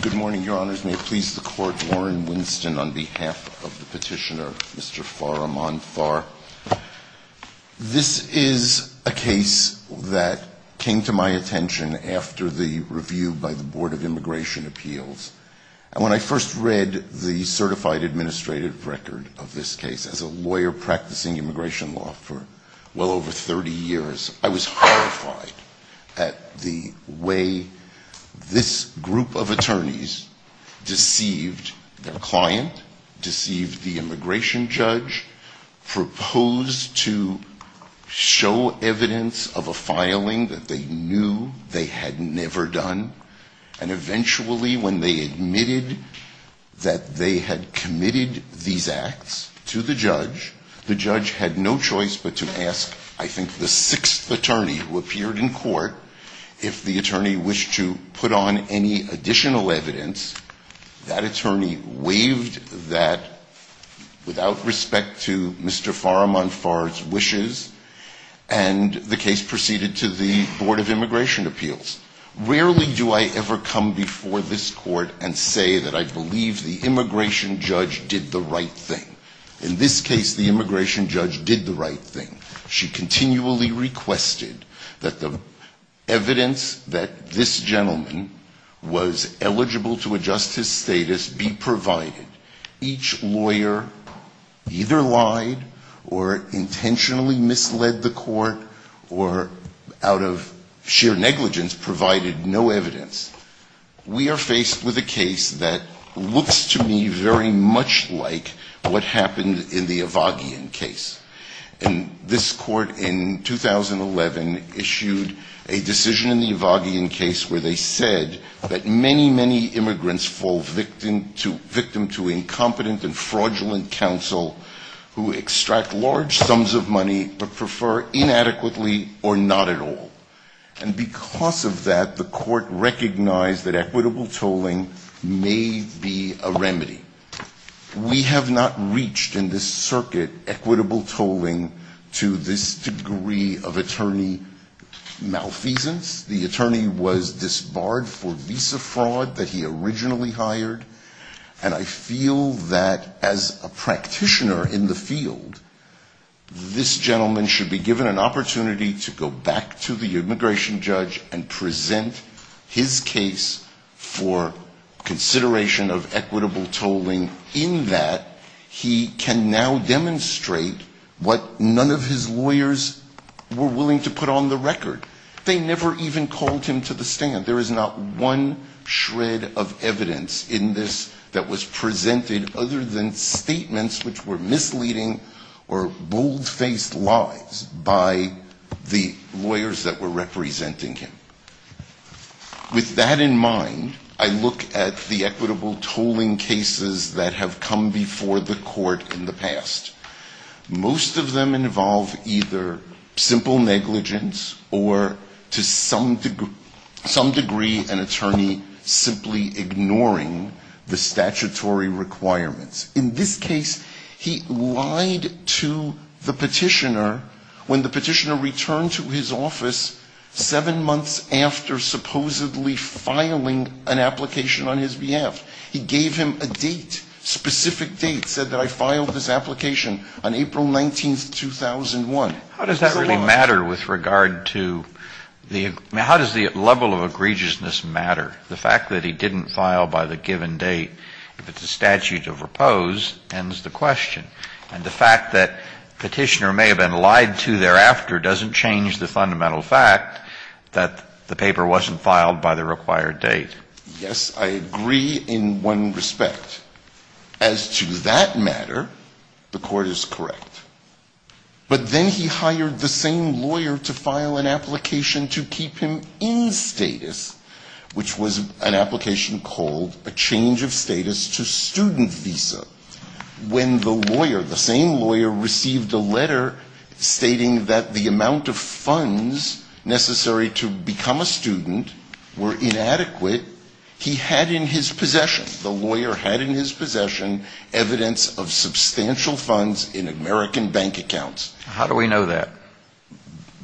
Good morning, Your Honors. May it please the Court, Warren Winston on behalf of the petitioner, Mr. Farahmandfar. This is a case that came to my attention after the review by the Board of Immigration Appeals. When I first read the certified administrative record of this case, as a lawyer practicing immigration law for well over 30 years, I was horrified at the way this group of attorneys deceived their client, deceived the immigration judge, proposed to show evidence of a filing that they knew they had never done, and eventually when they admitted that they had committed these acts to the judge, the judge had no choice but to ask, I think, the sixth attorney who appeared in court if the attorney wished to put on any additional evidence. That attorney waived that without respect to Mr. Farahmandfar's wishes, and the case proceeded to the Board of Immigration Appeals. Rarely do I ever come before this court and say that I believe the immigration judge did the right thing. In this case, the immigration judge did the right thing. She continually requested that the evidence that this gentleman was eligible to adjust his status be provided. Each lawyer either lied or intentionally misled the court or out of sheer negligence provided no evidence. We are faced with a case that looks to me very much like what happened in the Evagian case. And this court in 2011 issued a decision in the Evagian case where they said that many, many immigrants fall victim to incompetent and fraudulent counsel who extract large sums of money but prefer inadequately or not at all. And because of that, the court recognized that equitable tolling may be a remedy. We have not reached in this circuit equitable tolling to this degree of attorney malfeasance. The attorney was disbarred for visa fraud that he originally hired. And I feel that as a practitioner in the field, this gentleman should be given an opportunity to go back to the immigration judge and present his case for consideration of equitable tolling in that he can now demonstrate what none of his lawyers were willing to put on the record. They never even called him to the stand. There is not one shred of evidence in this that was presented other than statements which were misleading or bold-faced lies by the lawyers that were representing him. With that in mind, I look at the equitable tolling cases that have come before the court in the past. Most of them involve either simple negligence or to some degree an attorney simply ignoring the statutory requirements. In this case, he lied to the petitioner when the petitioner returned to his office seven months after supposedly filing an application on his behalf. He gave him a date, specific date, said that I filed this application on April 19th, 2001. Kennedy, Jr. How does that really matter with regard to the – I mean, how does the level of egregiousness matter? The fact that he didn't file by the given date, if it's a statute of repose, ends the question. And the fact that the petitioner may have been lied to thereafter doesn't change the fundamental fact that the paper wasn't filed by the required date. Yes, I agree in one respect. As to that matter, the court is correct. But then he hired the same lawyer to file an application to keep him in status, which was an application called a change of status to student visa. When the lawyer, the same lawyer, received a letter stating that the amount of funds necessary to become a student were inadequate, he had in his possession, the lawyer had in his possession, evidence of substantial funds in American bank accounts. How do we know that?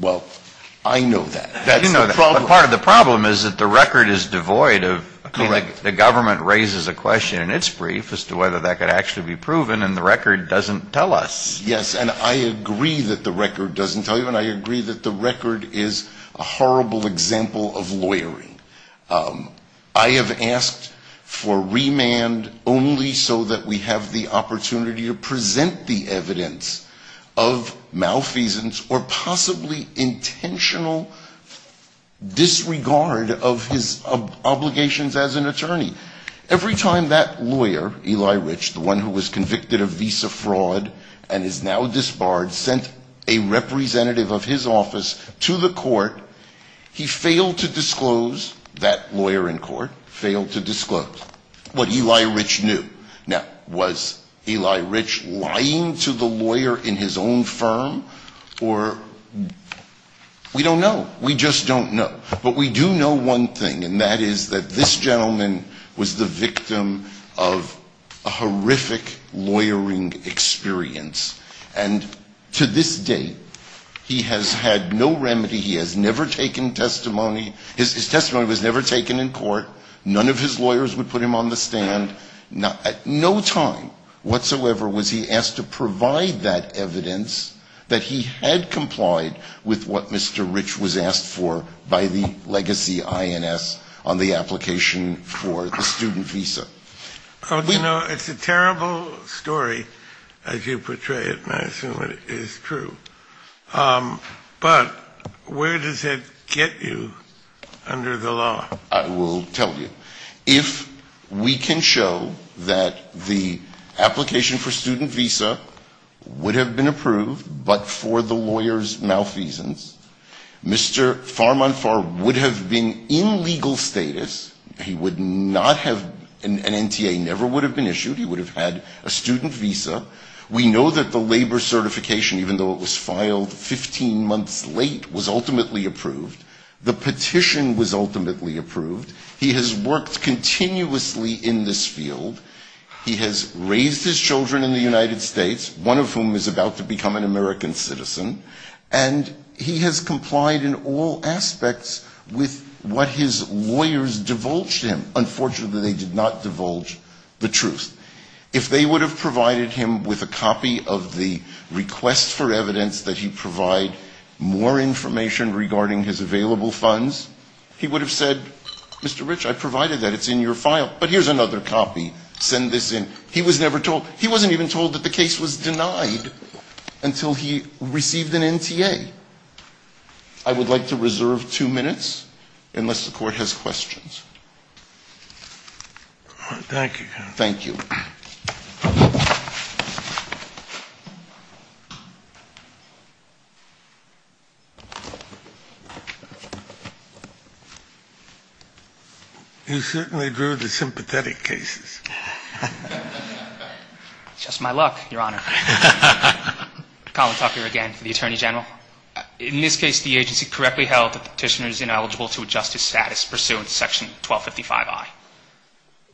Well, I know that. That's the problem. But part of the problem is that the record is devoid of – Correct. The government raises a question in its brief as to whether that could actually be proven, and the record doesn't tell us. Yes, and I agree that the record doesn't tell you, and I agree that the record is a horrible example of lawyering. I have asked for remand only so that we have the opportunity to present the evidence of malfeasance or possibly intentional disregard of his obligations as an attorney. Every time that lawyer, Eli Rich, the one who was convicted of visa fraud and is now disbarred, sent a representative of his office to the court, he failed to disclose – that lawyer in court failed to disclose – what Eli Rich knew. Now, was Eli Rich lying to the lawyer in his own firm, or – we don't know. We just don't know. But we do know one thing, and that is that this gentleman was the victim of a horrific lawyering experience. And to this date, he has had no remedy. He has never taken testimony. His testimony was never taken in court. None of his lawyers would put him on the stand. At no time whatsoever was he asked to provide that evidence that he had complied with what Mr. Rich was asked for by the legacy INS on the application for the student visa. You know, it's a terrible story as you portray it, and I assume it is true. But where does it get you under the law? I will tell you. If we can show that the application for student visa would have been approved but for the lawyer's malfeasance, Mr. Farmanfar would have been in legal status. He would not have – an NTA never would have been issued. He would have had a student visa. We know that the labor certification, even though it was filed 15 months late, was ultimately approved. The petition was ultimately approved. He has worked continuously in this field. He has raised his children in the United States, one of whom is about to become an American citizen. And he has complied in all aspects with what his lawyers divulged him. Unfortunately, they did not divulge the truth. If they would have provided him with a copy of the request for evidence that he provide more information regarding his available funds, he would have said, Mr. Rich, I provided that. It's in your file. But here's another copy. Send this in. He was never told. He wasn't even told that the case was denied until he received an NTA. I would like to reserve two minutes unless the Court has questions. Thank you. Thank you. You certainly drew the sympathetic cases. It's just my luck, Your Honor. Colin Tucker again for the Attorney General. In this case, the agency correctly held that the petitioner is ineligible to adjust his status pursuant to Section 1255I.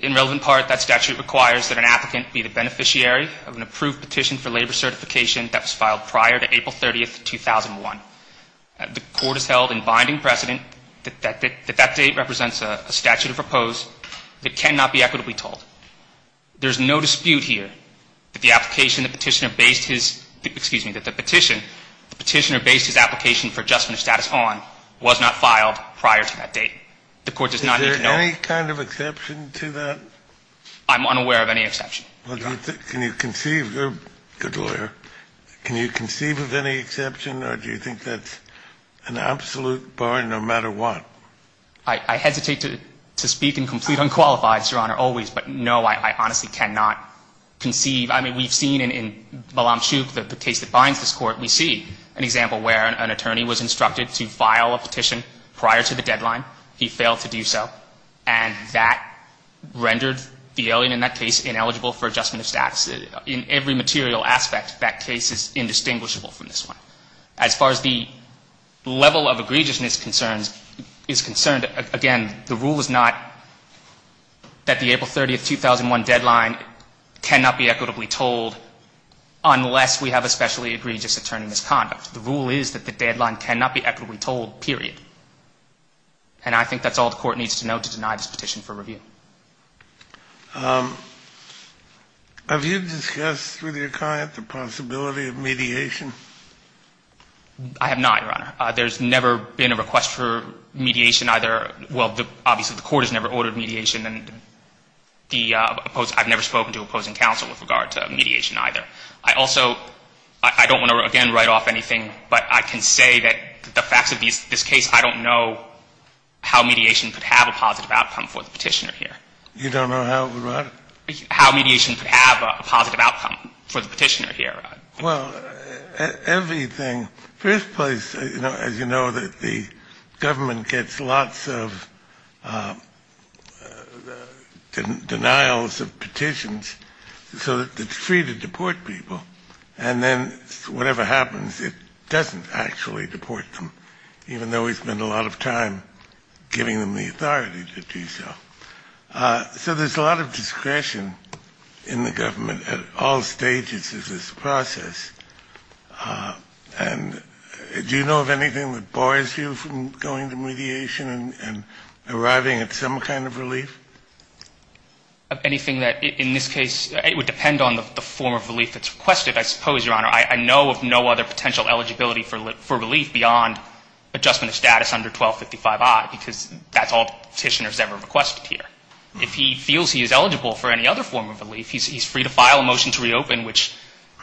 In relevant part, that statute requires that an applicant be the beneficiary of an approved petition for labor certification that was filed prior to April 30, 2001. The Court has held in binding precedent that that date represents a statute of repose that cannot be equitably told. There's no dispute here that the application the petitioner based his – excuse me, that the petitioner based his application for adjustment of status on was not filed prior to that date. The Court does not need to know. Is there any kind of exception to that? I'm unaware of any exception, Your Honor. Can you conceive – you're a good lawyer. Can you conceive of any exception or do you think that's an absolute bar, no matter what? I hesitate to speak in complete unqualified, Your Honor, always. But, no, I honestly cannot conceive. I mean, we've seen in Malamchuk, the case that binds this Court, we see an example where an attorney was instructed to file a petition prior to the deadline. He failed to do so. And that rendered the alien in that case ineligible for adjustment of status. In every material aspect, that case is indistinguishable from this one. As far as the level of egregiousness concerns – is concerned, again, the rule is not that the April 30, 2001 deadline cannot be equitably told unless we have a specially egregious attorney misconduct. The rule is that the deadline cannot be equitably told, period. And I think that's all the Court needs to know to deny this petition for review. Have you discussed with your client the possibility of mediation? I have not, Your Honor. There's never been a request for mediation either – well, obviously, the Court has never ordered mediation. And the – I've never spoken to opposing counsel with regard to mediation either. I also – I don't want to, again, write off anything, but I can say that the facts of this case, I don't know how mediation could have a positive outcome for the Petitioner here. You don't know how it would work? How mediation could have a positive outcome for the Petitioner here. Well, everything – first place, as you know, that the government gets lots of denials of petitions so that it's free to deport people. And then whatever happens, it doesn't actually deport them, even though we spend a lot of time giving them the authority to do so. So there's a lot of discretion in the government at all stages of this process. And do you know of anything that bars you from going to mediation and arriving at some kind of relief? Anything that – in this case, it would depend on the form of relief that's requested, I suppose, Your Honor. I know of no other potential eligibility for relief beyond adjustment of status under 1255I, because that's all the Petitioner has ever requested here. If he feels he is eligible for any other form of relief, he's free to file a motion to reopen, which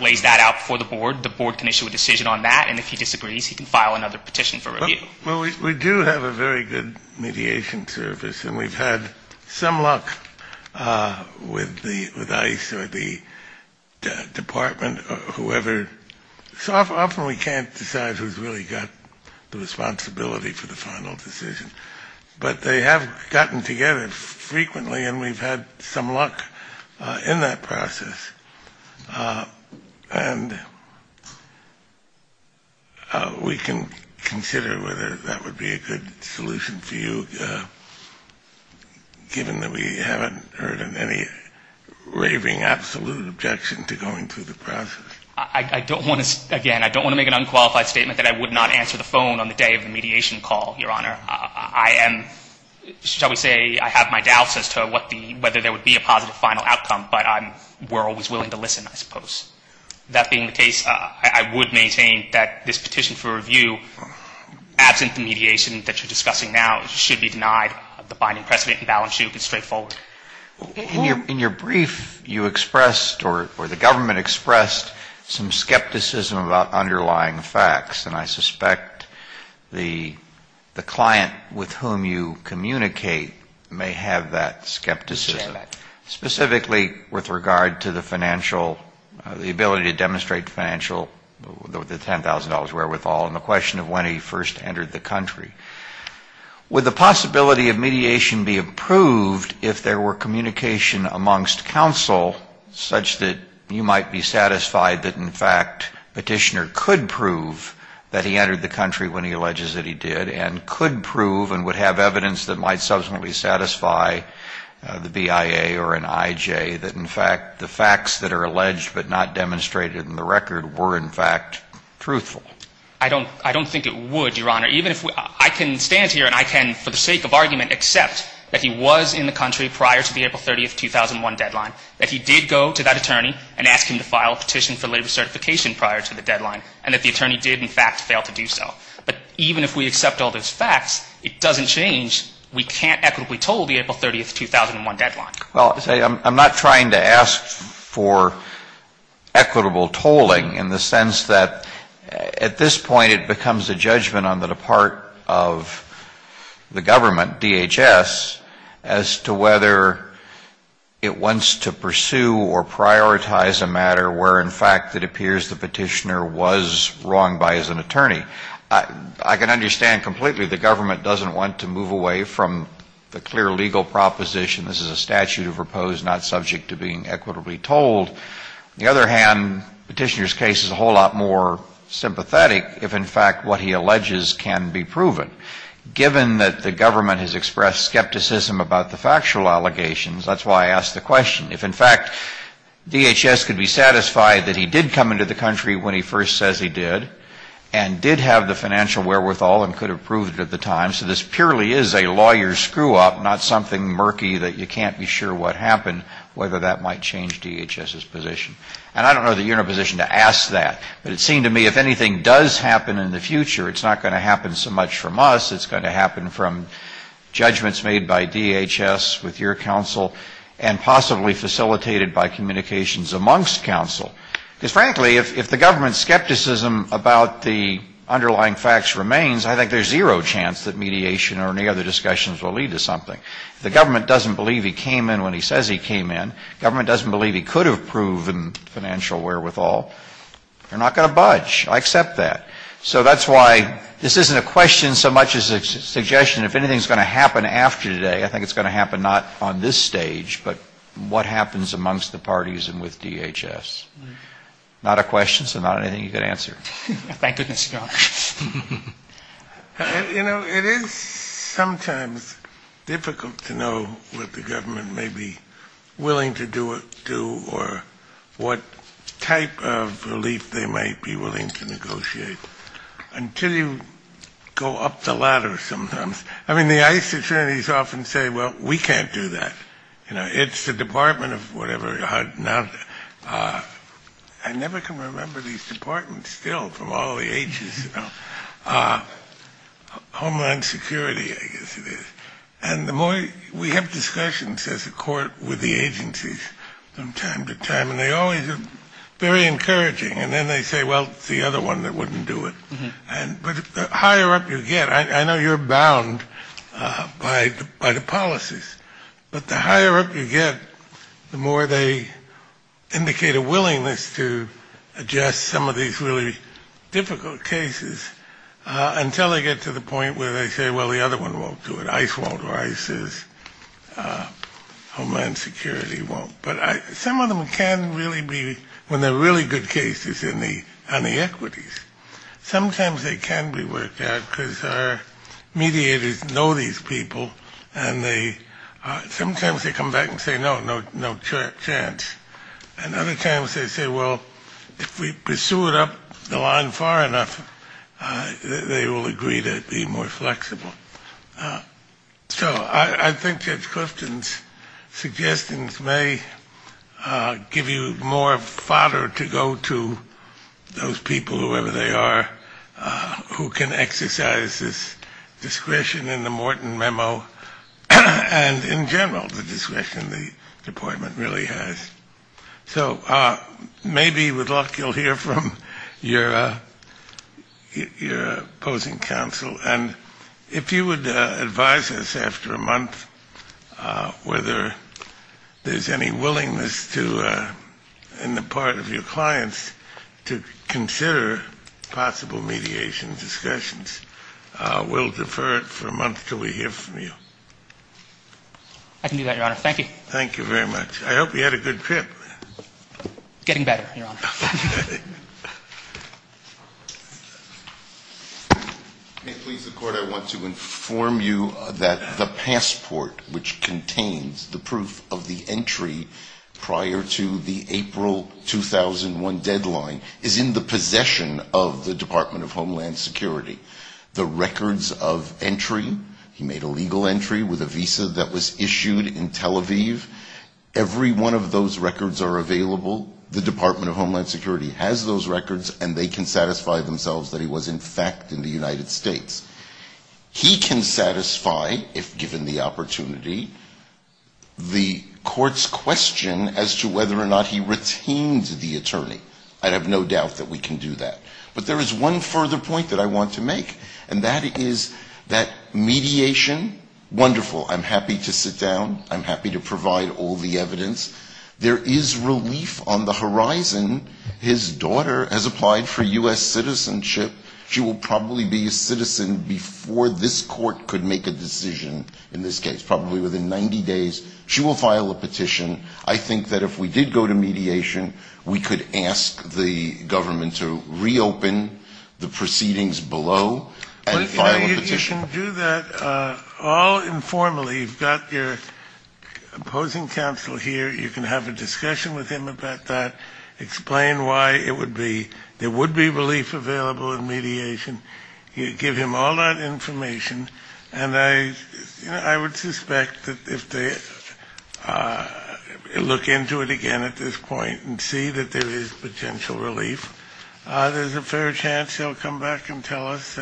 lays that out before the board. The board can issue a decision on that. And if he disagrees, he can file another petition for review. Well, we do have a very good mediation service, and we've had some luck with ICE or the department or whoever. So often we can't decide who's really got the responsibility for the final decision. But they have gotten together frequently, and we've had some luck in that process. And we can consider whether that would be a good solution for you, given that we haven't heard of any raving absolute objection to going through the process. I don't want to – again, I don't want to make an unqualified statement that I would not answer the phone on the day of the mediation call, Your Honor. I am – shall we say I have my doubts as to what the – whether there would be a positive final outcome. But I'm – we're always willing to listen, I suppose. That being the case, I would maintain that this petition for review, absent the mediation that you're discussing now, should be denied. The binding precedent and balance sheet would be straightforward. In your brief, you expressed or the government expressed some skepticism about underlying facts. And I suspect the client with whom you communicate may have that skepticism. Specifically with regard to the financial – the ability to demonstrate financial – the $10,000 wherewithal and the question of when he first entered the country. Would the possibility of mediation be approved if there were communication amongst counsel such that you might be satisfied that, in fact, petitioner could prove that he entered the country when he alleges that he did, and could prove and would have evidence that might subsequently satisfy the BIA or an IJ, that, in fact, the facts that are alleged but not demonstrated in the record were, in fact, truthful? I don't – I don't think it would, Your Honor. Even if – I can stand here and I can, for the sake of argument, accept that he was in the country prior to the April 30, 2001 deadline, that he did go to that attorney and ask him to file a petition for labor certification prior to the deadline, and that the attorney did, in fact, fail to do so. But even if we accept all those facts, it doesn't change we can't equitably toll the April 30, 2001 deadline. Well, I'm not trying to ask for equitable tolling in the sense that, at this point, it becomes a judgment on the part of the government, DHS, as to whether it wants to pursue or prioritize a matter where, in fact, it appears the petitioner was wrong by as an attorney. I can understand completely the government doesn't want to move away from the clear legal proposition this is a statute of repose not subject to being equitably tolled. On the other hand, the petitioner's case is a whole lot more sympathetic if, in fact, what he alleges can be proven. Given that the government has expressed skepticism about the factual allegations, that's why I ask the question. If, in fact, DHS could be satisfied that he did come into the country when he first says he did and did have the financial wherewithal and could have proved it at the time, so this purely is a lawyer's screw-up, not something murky that you can't be sure what happened, whether that might change DHS's position. And I don't know that you're in a position to ask that. But it seemed to me if anything does happen in the future, it's not going to happen so much from us. It's going to happen from judgments made by DHS with your counsel and possibly facilitated by communications amongst counsel. Because, frankly, if the government's skepticism about the underlying facts remains, I think there's zero chance that mediation or any other discussions will lead to something. If the government doesn't believe he came in when he says he came in, government doesn't believe he could have proven financial wherewithal, they're not going to budge. I accept that. So that's why this isn't a question so much as a suggestion. If anything's going to happen after today, I think it's going to happen not on this stage, but what happens amongst the parties and with DHS. Not a question, so not anything you can answer. Thank goodness, no. You know, it is sometimes difficult to know what the government may be willing to do or what type of relief they might be willing to negotiate until you go up the ladder sometimes. I mean, the ICE attorneys often say, well, we can't do that. You know, it's the Department of whatever. I never can remember these departments still from all the ages. Homeland Security, I guess it is. And the more we have discussions as a court with the agencies from time to time, and they always are very encouraging. And then they say, well, it's the other one that wouldn't do it. But the higher up you get, I know you're bound by the policies, but the higher up you get, the more they indicate a willingness to adjust some of these really difficult cases until they get to the point where they say, well, the other one won't do it. ICE won't or ICE's. Homeland Security won't. But some of them can really be when they're really good cases on the equities. Sometimes they can be worked out because our mediators know these people, and sometimes they come back and say, no, no chance. And other times they say, well, if we pursue it up the line far enough, they will agree to be more flexible. So I think Judge Clifton's suggestions may give you more fodder to go to those people, whoever they are, who can exercise this discretion in the Morton Memo, and in general the discretion the department really has. So maybe with luck you'll hear from your opposing counsel. And if you would advise us after a month whether there's any willingness in the part of your clients to consider possible mediation discussions, we'll defer it for a month until we hear from you. I can do that, Your Honor. Thank you. Thank you very much. I hope you had a good trip. Getting better, Your Honor. May it please the Court, I want to inform you that the passport which contains the proof of the entry prior to the April 2001 deadline is in the possession of the Department of Homeland Security. The records of entry, he made a legal entry with a visa that was issued in Tel Aviv. Every one of those records are available. The Department of Homeland Security has those records, and they can satisfy themselves that he was in fact in the United States. He can satisfy, if given the opportunity, the court's question as to whether or not he retained the attorney. But there is one further point that I want to make, and that is that mediation, wonderful. I'm happy to sit down. I'm happy to provide all the evidence. There is relief on the horizon. His daughter has applied for U.S. citizenship. She will probably be a citizen before this court could make a decision in this case, probably within 90 days. She will file a petition. I would ask the government to reopen the proceedings below and file a petition. You can do that all informally. You've got your opposing counsel here. You can have a discussion with him about that. Explain why there would be relief available in mediation. Give him all that information, and I would suspect that if they look into it again at this point and see that there is potential relief, there is a fair chance they will come back and tell us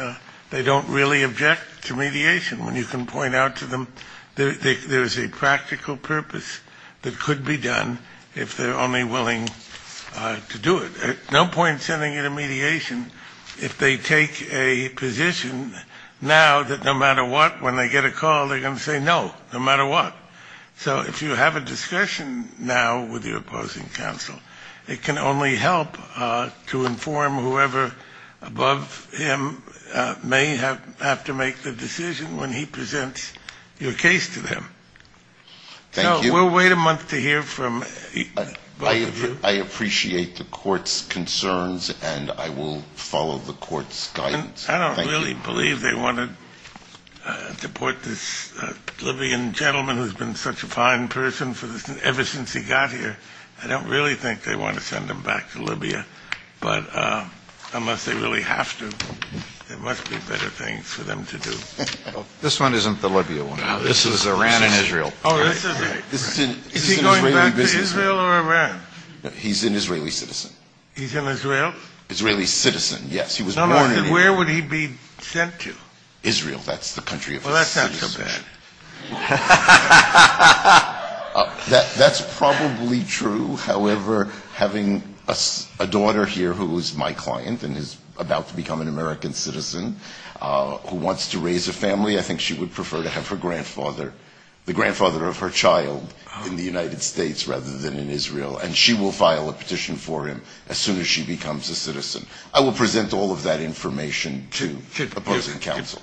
they don't really object to mediation, when you can point out to them there is a practical purpose that could be done if they are only willing to do it. No point sending it to mediation if they take a position now that no matter what, when they get a call, they are going to say no, no matter what. So if you have a discussion now with your opposing counsel, it can only help to inform whoever above him may have to make the decision when he presents your case to them. So we'll wait a month to hear from both of you. I appreciate the court's concerns, and I will follow the court's guidance. I don't really believe they want to deport this Libyan gentleman who has been such a fine person ever since he got here. I don't really think they want to send him back to Libya. But unless they really have to, there must be better things for them to do. This one isn't the Libya one. This is Iran and Israel. Is he going back to Israel or Iran? He's an Israeli citizen. He's an Israeli? Israeli citizen, yes. Where would he be sent to? Israel. That's the country of his citizenship. Well, that sounds so bad. That's probably true. However, having a daughter here who is my client and is about to become an American citizen who wants to raise a family, I think she would prefer to have the grandfather of her child in the United States rather than in Israel. And she will file a petition for him as soon as she becomes a citizen. I will present all of that information to opposing counsel.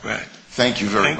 Thank you very much.